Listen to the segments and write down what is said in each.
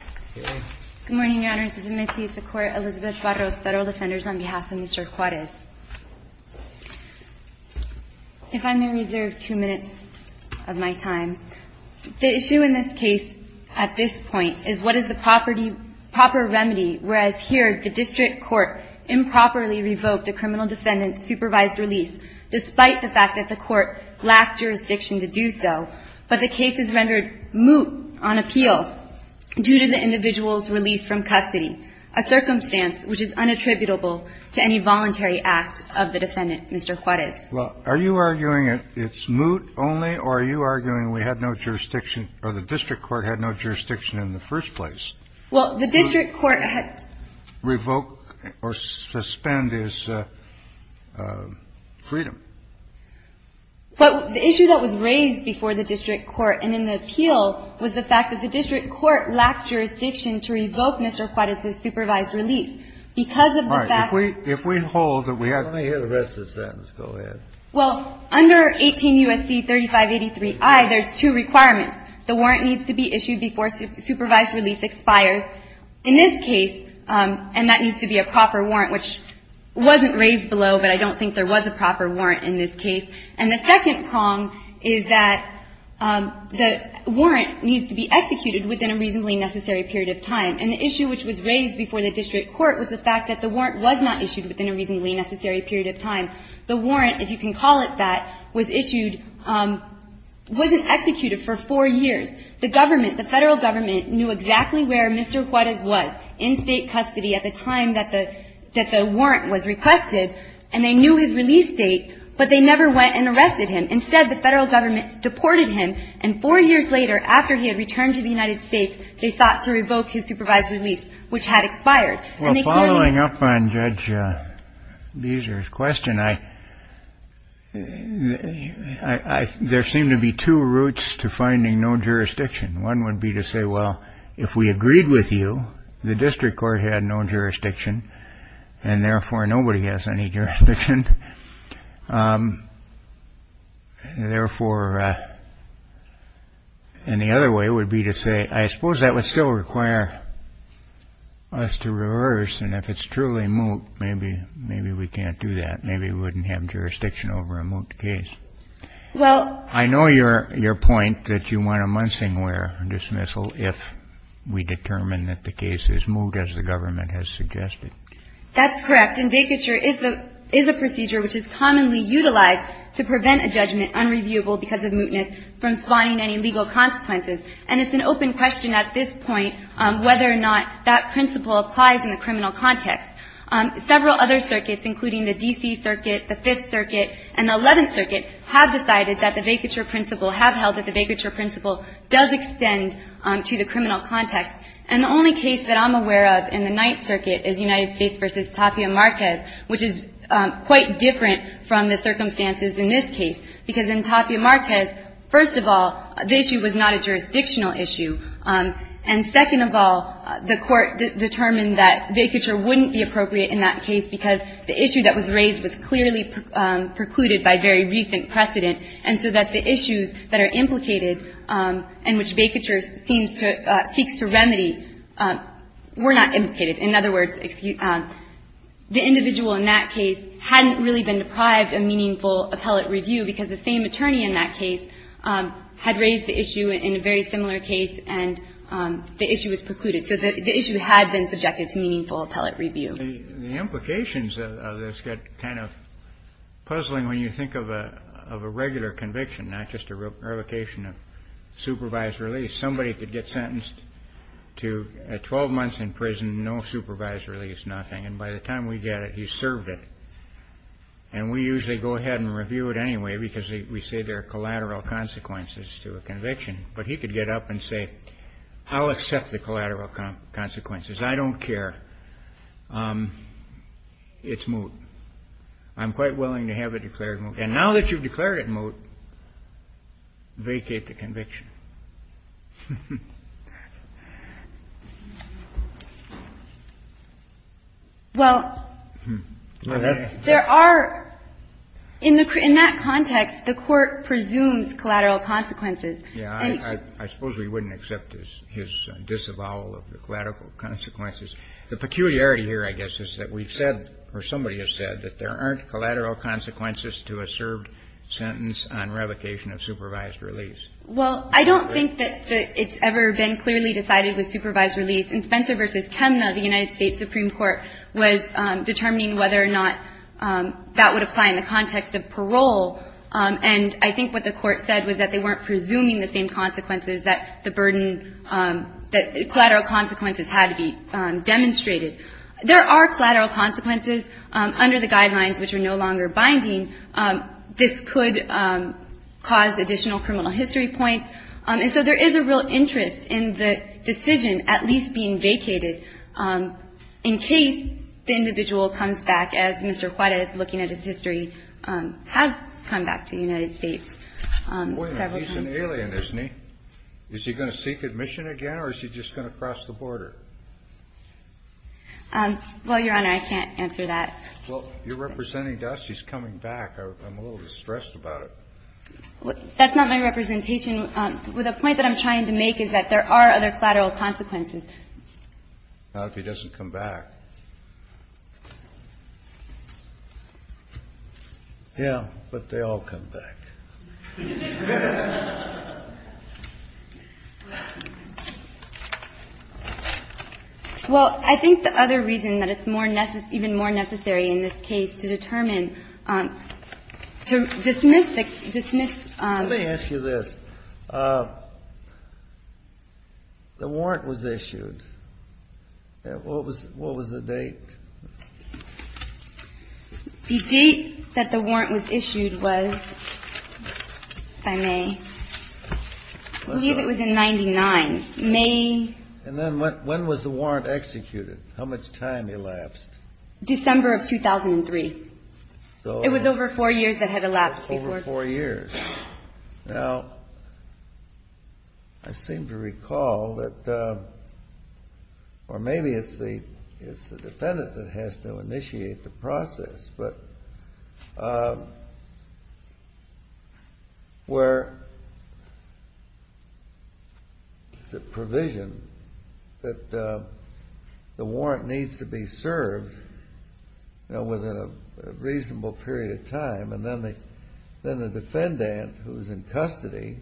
If I may reserve two minutes of my time. The issue in this case at this point is what is the proper remedy, whereas here the district court improperly revoked a criminal defendant's supervised release, despite the fact that the court lacked jurisdiction to do so. But the case is rendered moot on appeal due to the fact that the district court did not provide a proper remedy. The district court had no jurisdiction in the first place to revoke or suspend his freedom. But the issue that was raised before the district court and in the appeal was the fact that the district court lacked jurisdiction to revoke Mr. Juarez's supervised release because of the fact that the district court did not provide a proper remedy. And the second prong is that the warrant needs to be executed within a reasonably necessary period of time. And the issue which was raised before the district court was the fact that the warrant was not issued within a reasonably necessary period of time. The warrant, if you can call it that, was issued, wasn't executed for four years. The government, the Federal Government, knew exactly where Mr. Juarez was in State custody at the time that the warrant was requested. And they knew his release date, but they never went and arrested him. Instead, the Federal Government deported him. And four years later, after he had returned to the United States, they thought to revoke his supervised release, which had expired. And they clearly — Well, following up on Judge Beezer's question, I — there seem to be two routes to finding no jurisdiction. One would be to say, well, if we agreed with you, the district court had no jurisdiction, and therefore nobody has any jurisdiction. Therefore — and the other way would be to say, I suppose that would still require us to reverse. And if it's truly moot, maybe we can't do that. Maybe we wouldn't have jurisdiction over a moot case. Well — I know your — your point that you want a Munsingware dismissal if we determine that the case is moot, as the government has suggested. That's correct. And vacature is the — is a procedure which is commonly utilized to prevent a judgment unreviewable because of mootness from spawning any legal consequences. And it's an open question at this point whether or not that principle applies in the criminal context. Several other circuits, including the D.C. Circuit, the Fifth Circuit, and the Eleventh Circuit, have decided that the vacature principle — have held that the vacature principle does extend to the criminal context. And the only case that I'm aware of in the Ninth Circuit is United States v. Tapia Marquez, which is quite different from the circumstances in this case, because in Tapia Marquez, first of all, the issue was not a jurisdictional issue. And second of all, the Court determined that vacature wouldn't be appropriate in that case because the issue that was raised was clearly precluded by very recent precedent, and so that the issues that are implicated and which vacature seems to — seeks to remedy were not implicated. In other words, the individual in that case hadn't really been deprived of meaningful appellate review because the same attorney in that case had raised the issue in a very similar case, and the issue was precluded. So the issue had been subjected to meaningful appellate review. The implications of this get kind of puzzling when you think of a regular conviction, not just a revocation of supervised release. Somebody could get sentenced to 12 months in prison, no supervised release, nothing. And by the time we get it, he's served it. And we usually go ahead and review it anyway because we say there are collateral consequences to a conviction. But he could get up and say, I'll accept the collateral consequences. I don't care. It's moot. I'm quite willing to have it declared moot. And now that you've declared it moot, vacate the conviction. Well, there are, in that context, the Court presumes collateral consequences. Yeah. I suppose we wouldn't accept his disavowal of the collateral consequences. The peculiarity here, I guess, is that we've said or somebody has said that there aren't collateral consequences to a served sentence on revocation of supervised release. Well, I don't think that it's ever been clearly decided with supervised release. In Spencer v. Chemna, the United States Supreme Court was determining whether or not that would apply in the context of parole. And I think what the Court said was that they weren't presuming the same consequences, that the burden, that collateral consequences had to be demonstrated. There are collateral consequences under the guidelines which are no longer binding. This could cause additional criminal history points. And so there is a real interest in the decision at least being vacated in case the individual comes back, as Mr. Juarez, looking at his history, has come back to the United States several times. He's an alien, isn't he? Is he going to seek admission again, or is he just going to cross the border? Well, Your Honor, I can't answer that. Well, you're representing us. He's coming back. I'm a little distressed about it. That's not my representation. The point that I'm trying to make is that there are other collateral consequences. Not if he doesn't come back. Yeah, but they all come back. Well, I think the other reason that it's more necessary, even more necessary in this case, to determine, to dismiss, dismiss. Let me ask you this. The warrant was issued. What was the date? If I may. I believe it was in 99. May. And then when was the warrant executed? How much time elapsed? December of 2003. It was over four years that had elapsed before. Over four years. Now, I seem to recall that or maybe it's the defendant that has to initiate the process. But where the provision that the warrant needs to be served within a reasonable period of time, and then the defendant, who's in custody,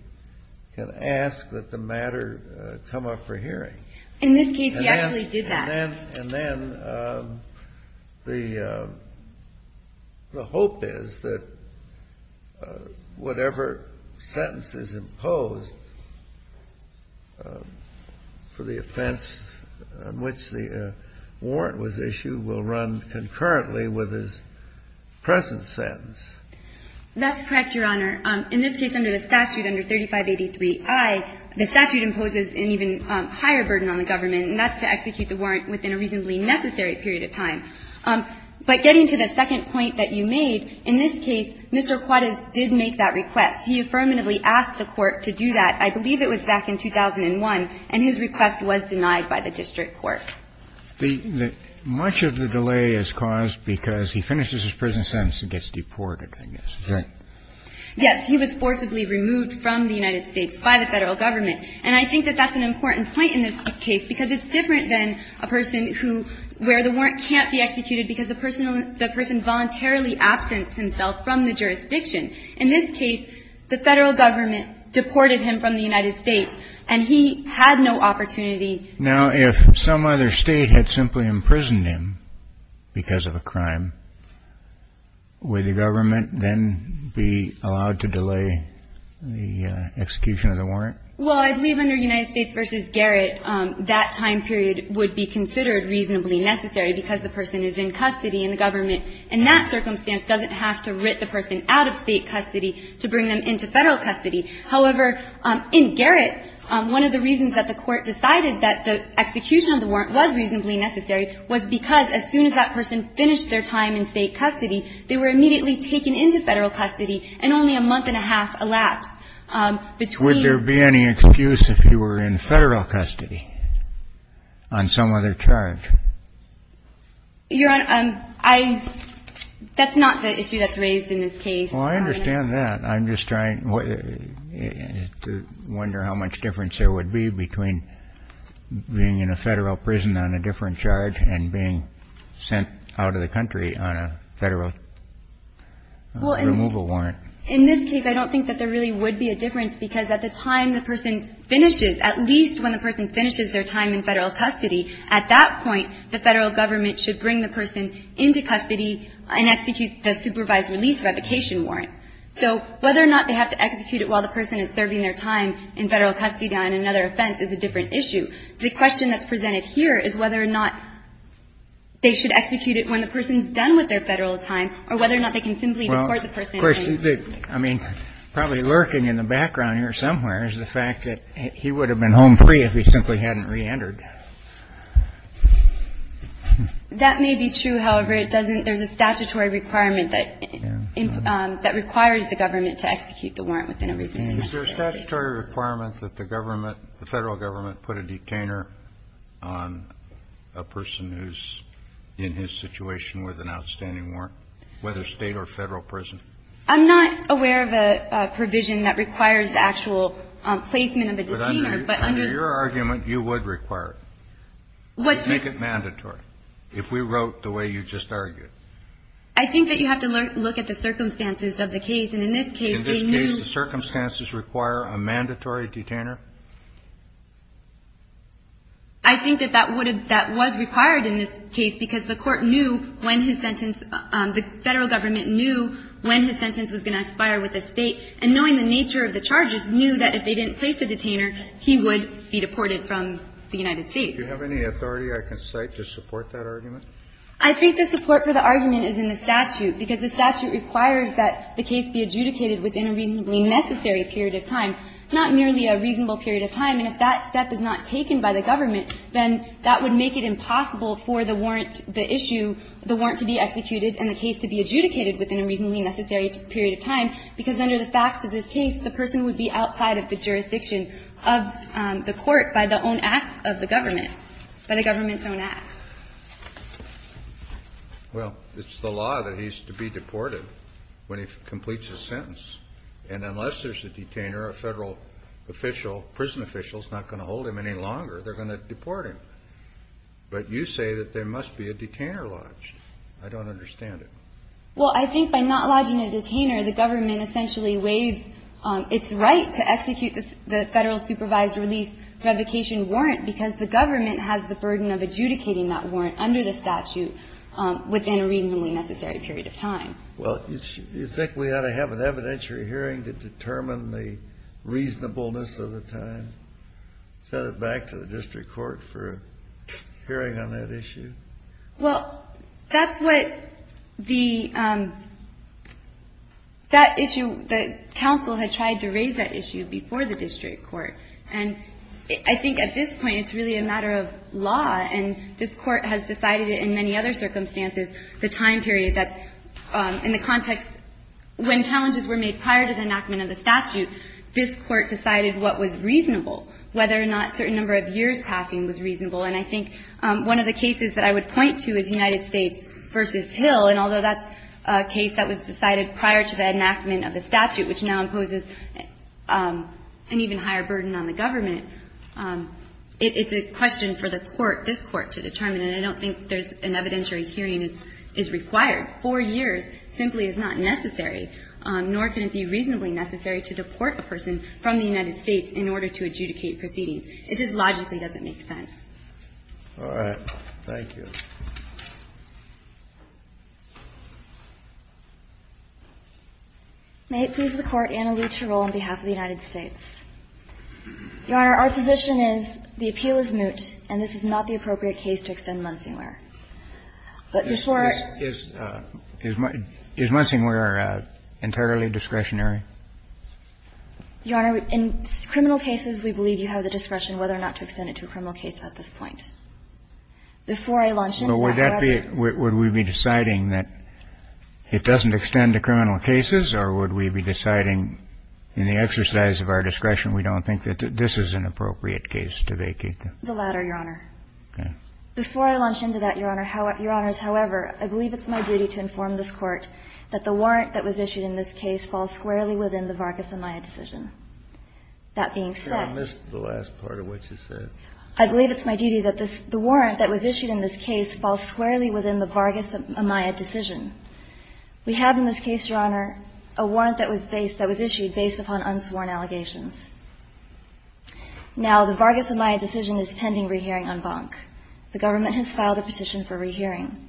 can ask that the matter come up for hearing. In this case, he actually did that. And then the hope is that whatever sentence is imposed for the offense on which the warrant was issued will run concurrently with his present sentence. That's correct, Your Honor. In this case, under the statute, under 3583I, the statute imposes an even higher burden on the government, and that's to execute the warrant within a reasonably necessary period of time. But getting to the second point that you made, in this case, Mr. Quattas did make that request. He affirmatively asked the Court to do that. I believe it was back in 2001, and his request was denied by the district court. Much of the delay is caused because he finishes his present sentence and gets deported, I guess, is that right? Yes. He was forcibly removed from the United States by the Federal Government. And I think that that's an important point in this case because it's different than a person who – where the warrant can't be executed because the person voluntarily absents himself from the jurisdiction. In this case, the Federal Government deported him from the United States, and he had no opportunity. Now, if some other state had simply imprisoned him because of a crime, would the government then be allowed to delay the execution of the warrant? Well, I believe under United States v. Garrett, that time period would be considered reasonably necessary because the person is in custody, and the government in that circumstance doesn't have to writ the person out of state custody to bring them into Federal custody. However, in Garrett, one of the reasons that the Court decided that the execution of the warrant was reasonably necessary was because as soon as that person finished their time in state custody, they were immediately taken into Federal custody, and only a month and a half elapsed between – But would there be any excuse if he were in Federal custody on some other charge? Your Honor, I – that's not the issue that's raised in this case. Well, I understand that. I'm just trying to wonder how much difference there would be between being in a Federal prison on a different charge and being sent out of the country on a Federal removal warrant. In this case, I don't think that there really would be a difference, because at the time the person finishes, at least when the person finishes their time in Federal custody, at that point, the Federal government should bring the person into custody and execute the supervised release revocation warrant. So whether or not they have to execute it while the person is serving their time in Federal custody on another offense is a different issue. The question that's presented here is whether or not they should execute it when the person's done with their Federal time or whether or not they can simply deport the person. Of course, I mean, probably lurking in the background here somewhere is the fact that he would have been home free if he simply hadn't reentered. That may be true. However, it doesn't – there's a statutory requirement that – that requires the government to execute the warrant within a reasonable time. Is there a statutory requirement that the government – the Federal government put a detainer on a person who's in his situation with an outstanding warrant, whether State or Federal prison? I'm not aware of a provision that requires the actual placement of a detainer, but under the – But under your argument, you would require it. Let's make it mandatory. If we wrote the way you just argued. I think that you have to look at the circumstances of the case. And in this case, they knew – In this case, the circumstances require a mandatory detainer? I think that that would have – that was required in this case because the Court knew when his sentence – the Federal government knew when his sentence was going to expire with the State, and knowing the nature of the charges, knew that if they didn't place a detainer, he would be deported from the United States. Do you have any authority I can cite to support that argument? I think the support for the argument is in the statute, because the statute requires that the case be adjudicated within a reasonably necessary period of time, not merely a reasonable period of time. And if that step is not taken by the government, then that would make it impossible for the warrant – the issue – the warrant to be executed and the case to be adjudicated within a reasonably necessary period of time, because under the facts of this case, the person would be outside of the jurisdiction of the Court by the own acts of the government, by the government's own acts. Well, it's the law that he's to be deported when he completes his sentence. And unless there's a detainer, a Federal official, prison official, is not going to hold him any longer. They're going to deport him. But you say that there must be a detainer lodged. I don't understand it. Well, I think by not lodging a detainer, the government essentially waives its right to execute the Federal supervised release revocation warrant, because the government has the burden of adjudicating that warrant under the statute within a reasonably necessary period of time. Well, you think we ought to have an evidentiary hearing to determine the reasonableness of the time, send it back to the district court for a hearing on that issue? Well, that's what the — that issue, the counsel had tried to raise that issue before the district court. And I think at this point, it's really a matter of law. And this Court has decided it in many other circumstances, the time period that's in the context — when challenges were made prior to the enactment of the statute, this Court decided what was reasonable, whether or not a certain number of years passing was reasonable. And I think one of the cases that I would point to is United States v. Hill. And although that's a case that was decided prior to the enactment of the statute, which now imposes an even higher burden on the government, it's a question for the Court, this Court, to determine. And I don't think there's an evidentiary hearing is required. Four years simply is not necessary, nor can it be reasonably necessary to deport a person from the United States in order to adjudicate proceedings. It just logically doesn't make sense. All right. Thank you. May it please the Court, Anna Luce, to roll on behalf of the United States. Your Honor, our position is the appeal is moot, and this is not the appropriate case to extend Munsingler. Is Munsingler entirely discretionary? Your Honor, in criminal cases, we believe you have the discretion whether or not to extend it to a criminal case at this point. Before I launch into it, however. Would we be deciding that it doesn't extend to criminal cases, or would we be deciding in the exercise of our discretion we don't think that this is an appropriate case to vacate? The latter, Your Honor. Okay. Before I launch into that, Your Honor, Your Honors, however, I believe it's my duty to inform this Court that the warrant that was issued in this case falls squarely within the Vargas-Amaya decision. That being said. I missed the last part of what you said. I believe it's my duty that the warrant that was issued in this case falls squarely within the Vargas-Amaya decision. We have in this case, Your Honor, a warrant that was issued based upon unsworn allegations. Now, the Vargas-Amaya decision is pending rehearing on Bonk. The government has filed a petition for rehearing.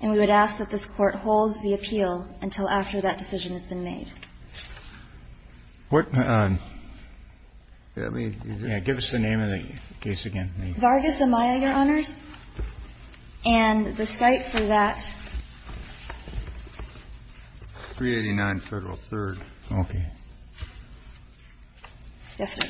And we would ask that this Court hold the appeal until after that decision has been made. Give us the name of the case again. Vargas-Amaya, Your Honors. And the site for that. 389 Federal Third. Okay. Yes, sir.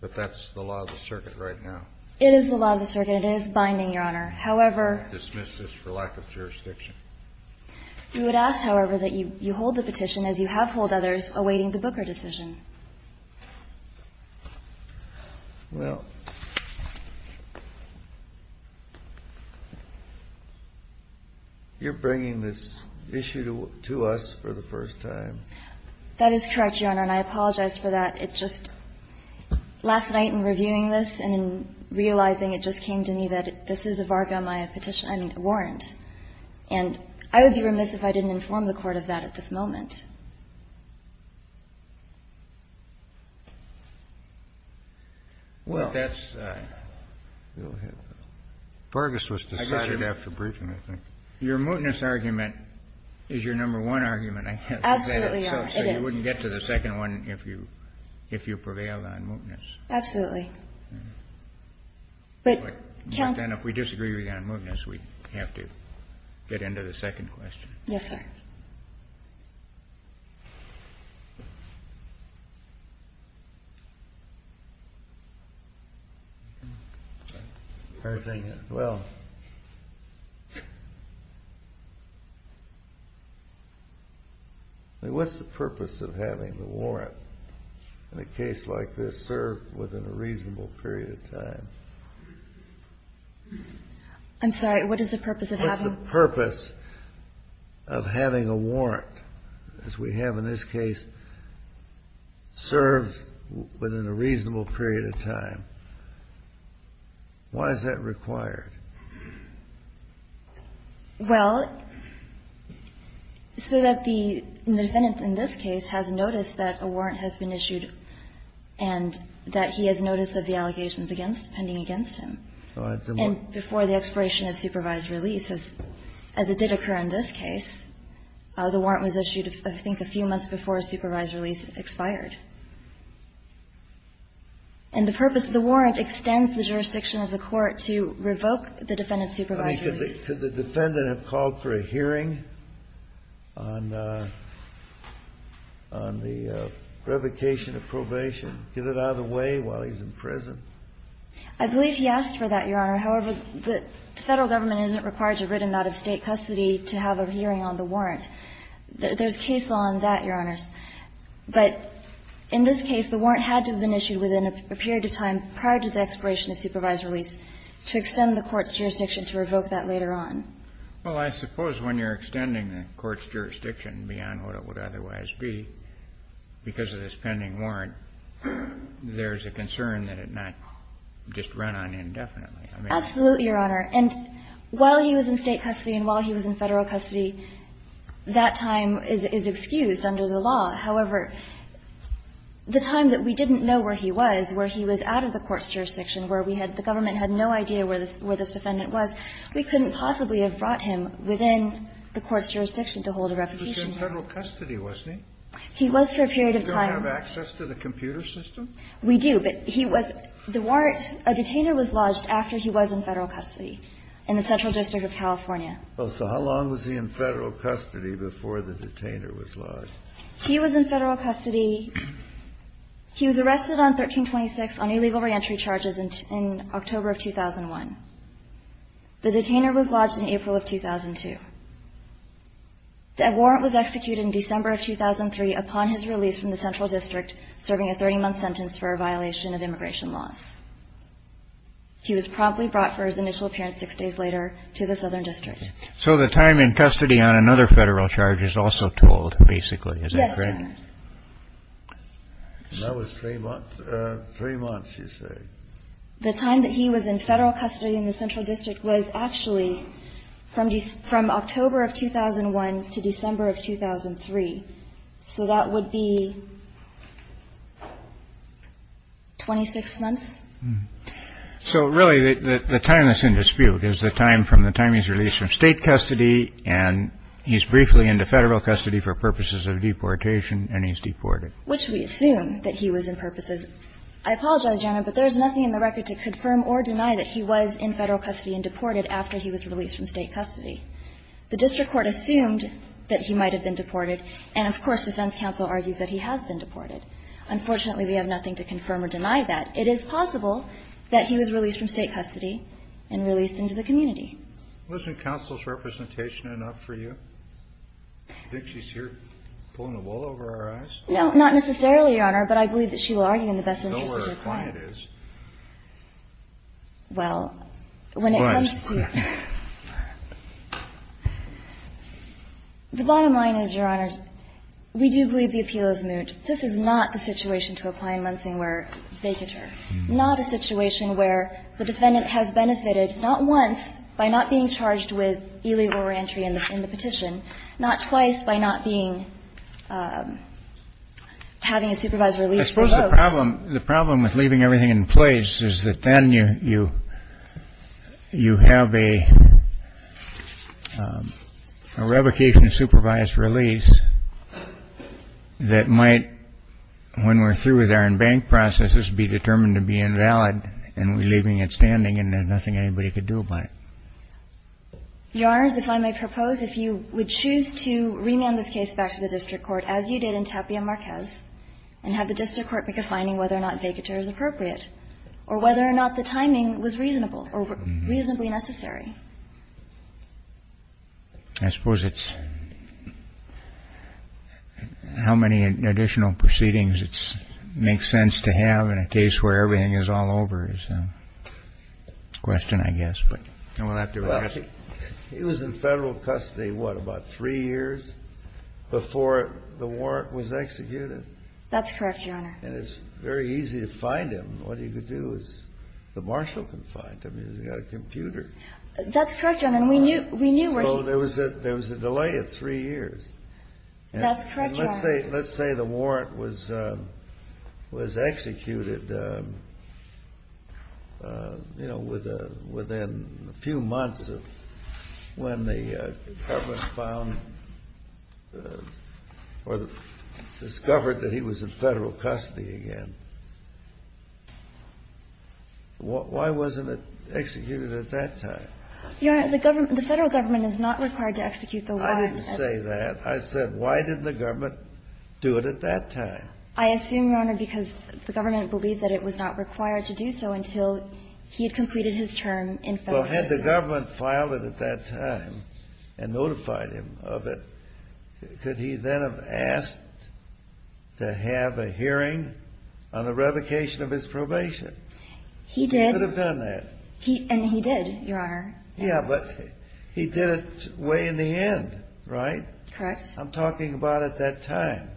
But that's the law of the circuit right now. It is the law of the circuit. It is binding, Your Honor. However. I dismiss this for lack of jurisdiction. We would ask, however, that you hold the petition as you have hold others awaiting the Booker decision. Well, you're bringing this issue to us for the first time. That is correct, Your Honor. And I apologize for that. It just, last night in reviewing this and in realizing it just came to me that this is a Vargas-Amaya petition, I mean, a warrant. And I would be remiss if I didn't inform the Court of that at this moment. Well, that's. Vargas was decided after briefing, I think. Your mootness argument is your number one argument, I guess. Absolutely, Your Honor. It is. So you wouldn't get to the second one if you prevailed on mootness. Absolutely. But, Counsel. But then if we disagree on mootness, we have to get into the second question. Yes, sir. All right. Well. What's the purpose of having the warrant in a case like this served within a reasonable period of time? I'm sorry. What is the purpose of having? What's the purpose of having a warrant, as we have in this case, served within a reasonable period of time? Why is that required? Well, so that the defendant in this case has noticed that a warrant has been issued and that he has notice of the allegations pending against him. And before the expiration of supervised release, as it did occur in this case, the warrant was issued, I think, a few months before supervised release expired. And the purpose of the warrant extends the jurisdiction of the court to revoke the defendant's supervised release. Could the defendant have called for a hearing on the revocation of probation, I believe he asked for that, Your Honor. However, the Federal government isn't required to written out of State custody to have a hearing on the warrant. There's case law on that, Your Honors. But in this case, the warrant had to have been issued within a period of time prior to the expiration of supervised release to extend the court's jurisdiction to revoke that later on. Well, I suppose when you're extending the court's jurisdiction beyond what it would otherwise be because of this pending warrant, there's a concern that it might just run on indefinitely. Absolutely, Your Honor. And while he was in State custody and while he was in Federal custody, that time is excused under the law. However, the time that we didn't know where he was, where he was out of the court's jurisdiction, where we had the government had no idea where this defendant was, we couldn't possibly have brought him within the court's jurisdiction to hold a revocation. But he was in Federal custody, wasn't he? He was for a period of time. You don't have access to the computer system? We do, but he was the warrant. A detainer was lodged after he was in Federal custody in the Central District of California. Well, so how long was he in Federal custody before the detainer was lodged? He was in Federal custody. He was arrested on 1326 on illegal reentry charges in October of 2001. The detainer was lodged in April of 2002. That warrant was executed in December of 2003 upon his release from the Central District, serving a 30-month sentence for a violation of immigration laws. He was promptly brought for his initial appearance six days later to the Southern District. So the time in custody on another Federal charge is also told, basically. Is that correct? Yes, Your Honor. And that was three months? Three months, you say. The time that he was in Federal custody in the Central District was actually from October of 2001 to December of 2003. So that would be 26 months? So, really, the time that's in dispute is the time from the time he's released from State custody and he's briefly into Federal custody for purposes of deportation and he's deported. Which we assume that he was in purposes. I apologize, Your Honor, but there is nothing in the record to confirm or deny that he was in Federal custody and deported after he was released from State custody. The district court assumed that he might have been deported. And, of course, defense counsel argues that he has been deported. Unfortunately, we have nothing to confirm or deny that. It is possible that he was released from State custody and released into the community. Wasn't counsel's representation enough for you? Do you think she's here pulling the wool over our eyes? No, not necessarily, Your Honor, but I believe that she will argue in the best interest of her client. You know where her client is. Well, when it comes to the bottom line is, Your Honor, we do believe the appeal is moot. This is not the situation to a client in Lansing where they deter. Not a situation where the defendant has benefited not once by not being charged with illegal reentry in the petition, not twice by not being, having a supervisor release folks. The problem with leaving everything in place is that then you have a revocation of supervised release that might, when we're through with our in-bank processes, be determined to be invalid and we're leaving it standing and there's nothing anybody could do about it. Your Honors, if I may propose, if you would choose to remand this case back to the I think that's just a matter of finding out whether or not it's appropriate and finding whether or not vacatur is appropriate or whether or not the timing was reasonable or reasonably necessary. I suppose it's how many additional proceedings it makes sense to have in a case where it's very easy to find him. What he could do is the marshal can find him. He's got a computer. That's correct, Your Honor. And we knew where he was. Well, there was a delay of three years. That's correct, Your Honor. And let's say the warrant was executed, you know, within a few months of when the warrant was executed. Why wasn't it executed at that time? Your Honor, the Federal government is not required to execute the warrant. I didn't say that. I said why didn't the government do it at that time? I assume, Your Honor, because the government believed that it was not required to do so until he had completed his term in Federal prison. Well, had the government filed it at that time and notified him of it, could he then have asked to have a hearing on the revocation of his probation? He did. He could have done that. And he did, Your Honor. Yeah, but he did it way in the end, right? Correct. I'm talking about at that time.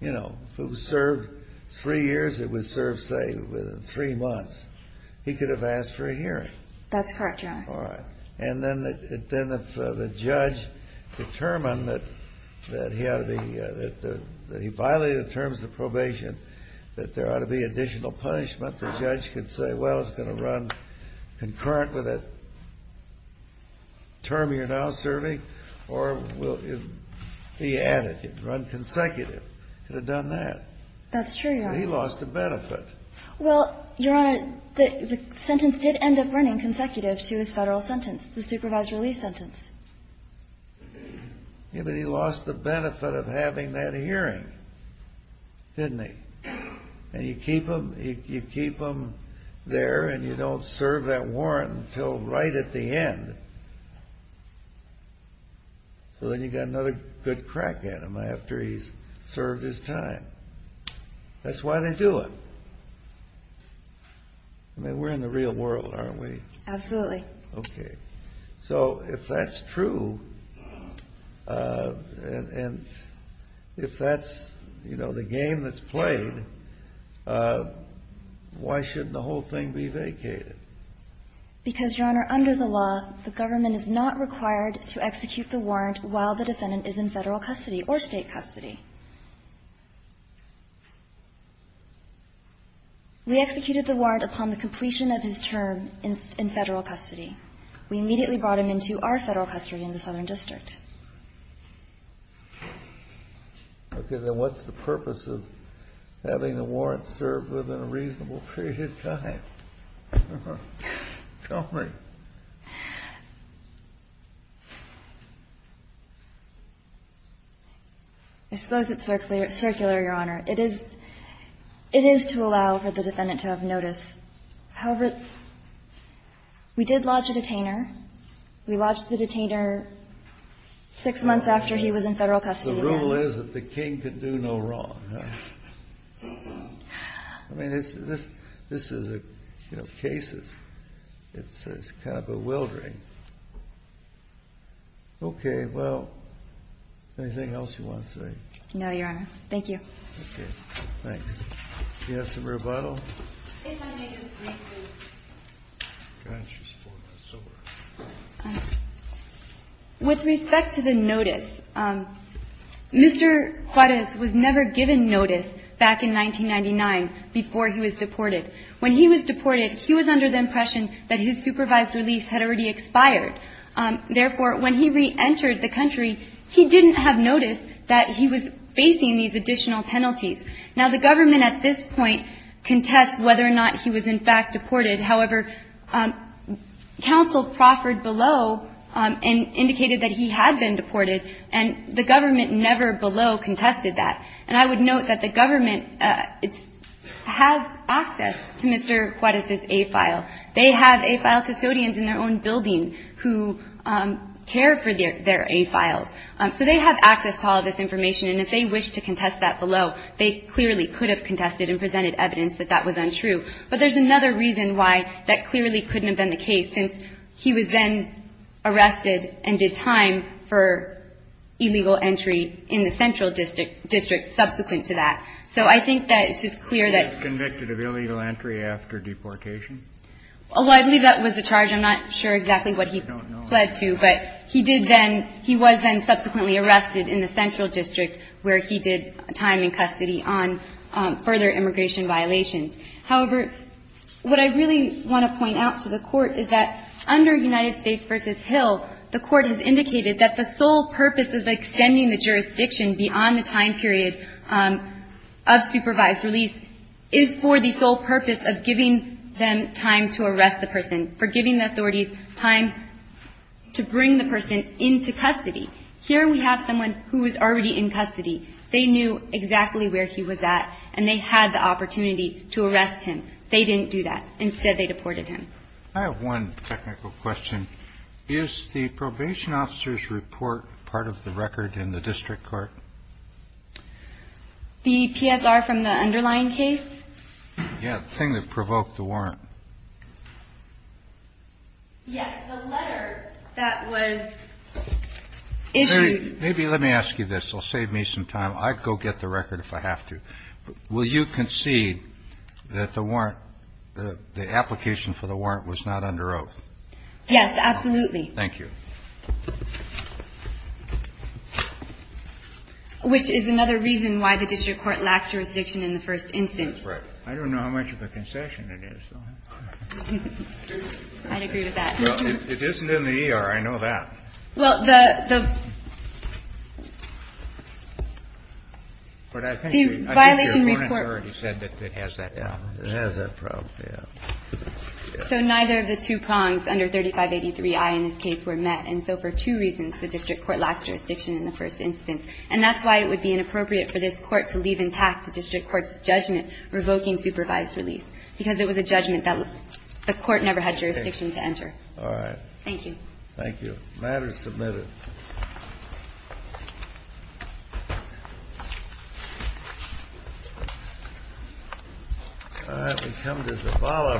You know, if it was served three years, it was served, say, within three months. He could have asked for a hearing. That's correct, Your Honor. All right. And then if the judge determined that he had to be – that he violated the terms of probation, that there ought to be additional punishment, the judge could say, well, it's going to run concurrent with the term you're now serving, or it will be added, run consecutive. He could have done that. That's true, Your Honor. But he lost the benefit. Well, Your Honor, the sentence did end up running consecutive to his federal sentence, the supervised release sentence. Yeah, but he lost the benefit of having that hearing, didn't he? And you keep him there and you don't serve that warrant until right at the end. So then you've got another good crack at him after he's served his time. That's why they do it. I mean, we're in the real world, aren't we? Absolutely. Okay. So if that's true, and if that's, you know, the game that's played, why shouldn't the whole thing be vacated? Because, Your Honor, under the law, the government is not required to execute the warrant while the defendant is in federal custody or state custody. We executed the warrant upon the completion of his term in federal custody. We immediately brought him into our federal custody in the Southern District. Okay. Then what's the purpose of having the warrant served within a reasonable period of time? Tell me. I suppose it's circular, Your Honor. It is to allow for the defendant to have notice. However, we did lodge a detainer. We lodged the detainer six months after he was in federal custody. The rule is that the king can do no wrong. I mean, this is, you know, cases. It's kind of bewildering. Okay. Well, anything else you want to say? No, Your Honor. Thank you. Okay. Thanks. Do you have some rebuttal? If I may just briefly. With respect to the notice, Mr. Juarez was never given notice back in 1999 before he was deported. When he was deported, he was under the impression that his supervised release had already expired. Therefore, when he reentered the country, he didn't have notice that he was facing these additional penalties. Now, the government at this point contests whether or not he was in fact deported. However, counsel proffered below and indicated that he had been deported, and the government never below contested that. And I would note that the government has access to Mr. Juarez's A-file. They have A-file custodians in their own building who care for their A-files. So they have access to all of this information, and if they wish to contest that below, they clearly could have contested and presented evidence that that was untrue. But there's another reason why that clearly couldn't have been the case, since he was then arrested and did time for illegal entry in the central district subsequent to that. So I think that it's just clear that he was convicted of illegal entry after deportation. Well, I believe that was the charge. I'm not sure exactly what he fled to. I don't know. But he did then he was then subsequently arrested in the central district where he did time in custody on further immigration violations. However, what I really want to point out to the Court is that under United States v. Hill, the Court has indicated that the sole purpose of extending the jurisdiction beyond the time period of supervised release is for the sole purpose of giving them time to arrest the person, for giving the authorities time to bring the person into custody. Here we have someone who is already in custody. They knew exactly where he was at, and they had the opportunity to arrest him. They didn't do that. Instead, they deported him. I have one technical question. Is the probation officer's report part of the record in the district court? The PSR from the underlying case? Yeah, the thing that provoked the warrant. Yeah, the letter that was issued. Maybe let me ask you this. I'll save me some time. I'd go get the record if I have to. Will you concede that the warrant, the application for the warrant was not under oath? Yes, absolutely. Thank you. Which is another reason why the district court lacked jurisdiction in the first instance. That's right. I don't know how much of a concession it is, though. I'd agree with that. Well, it isn't in the ER. I know that. Well, the violation report. It has that problem. It has that problem, yeah. So neither of the two prongs under 3583i in this case were met, and so for two reasons the district court lacked jurisdiction in the first instance. And that's why it would be inappropriate for this court to leave intact the district court's judgment revoking supervised release, because it was a judgment that the court never had jurisdiction to enter. All right. Thank you. Thank you. The matter is submitted. All right. We come to Zavala.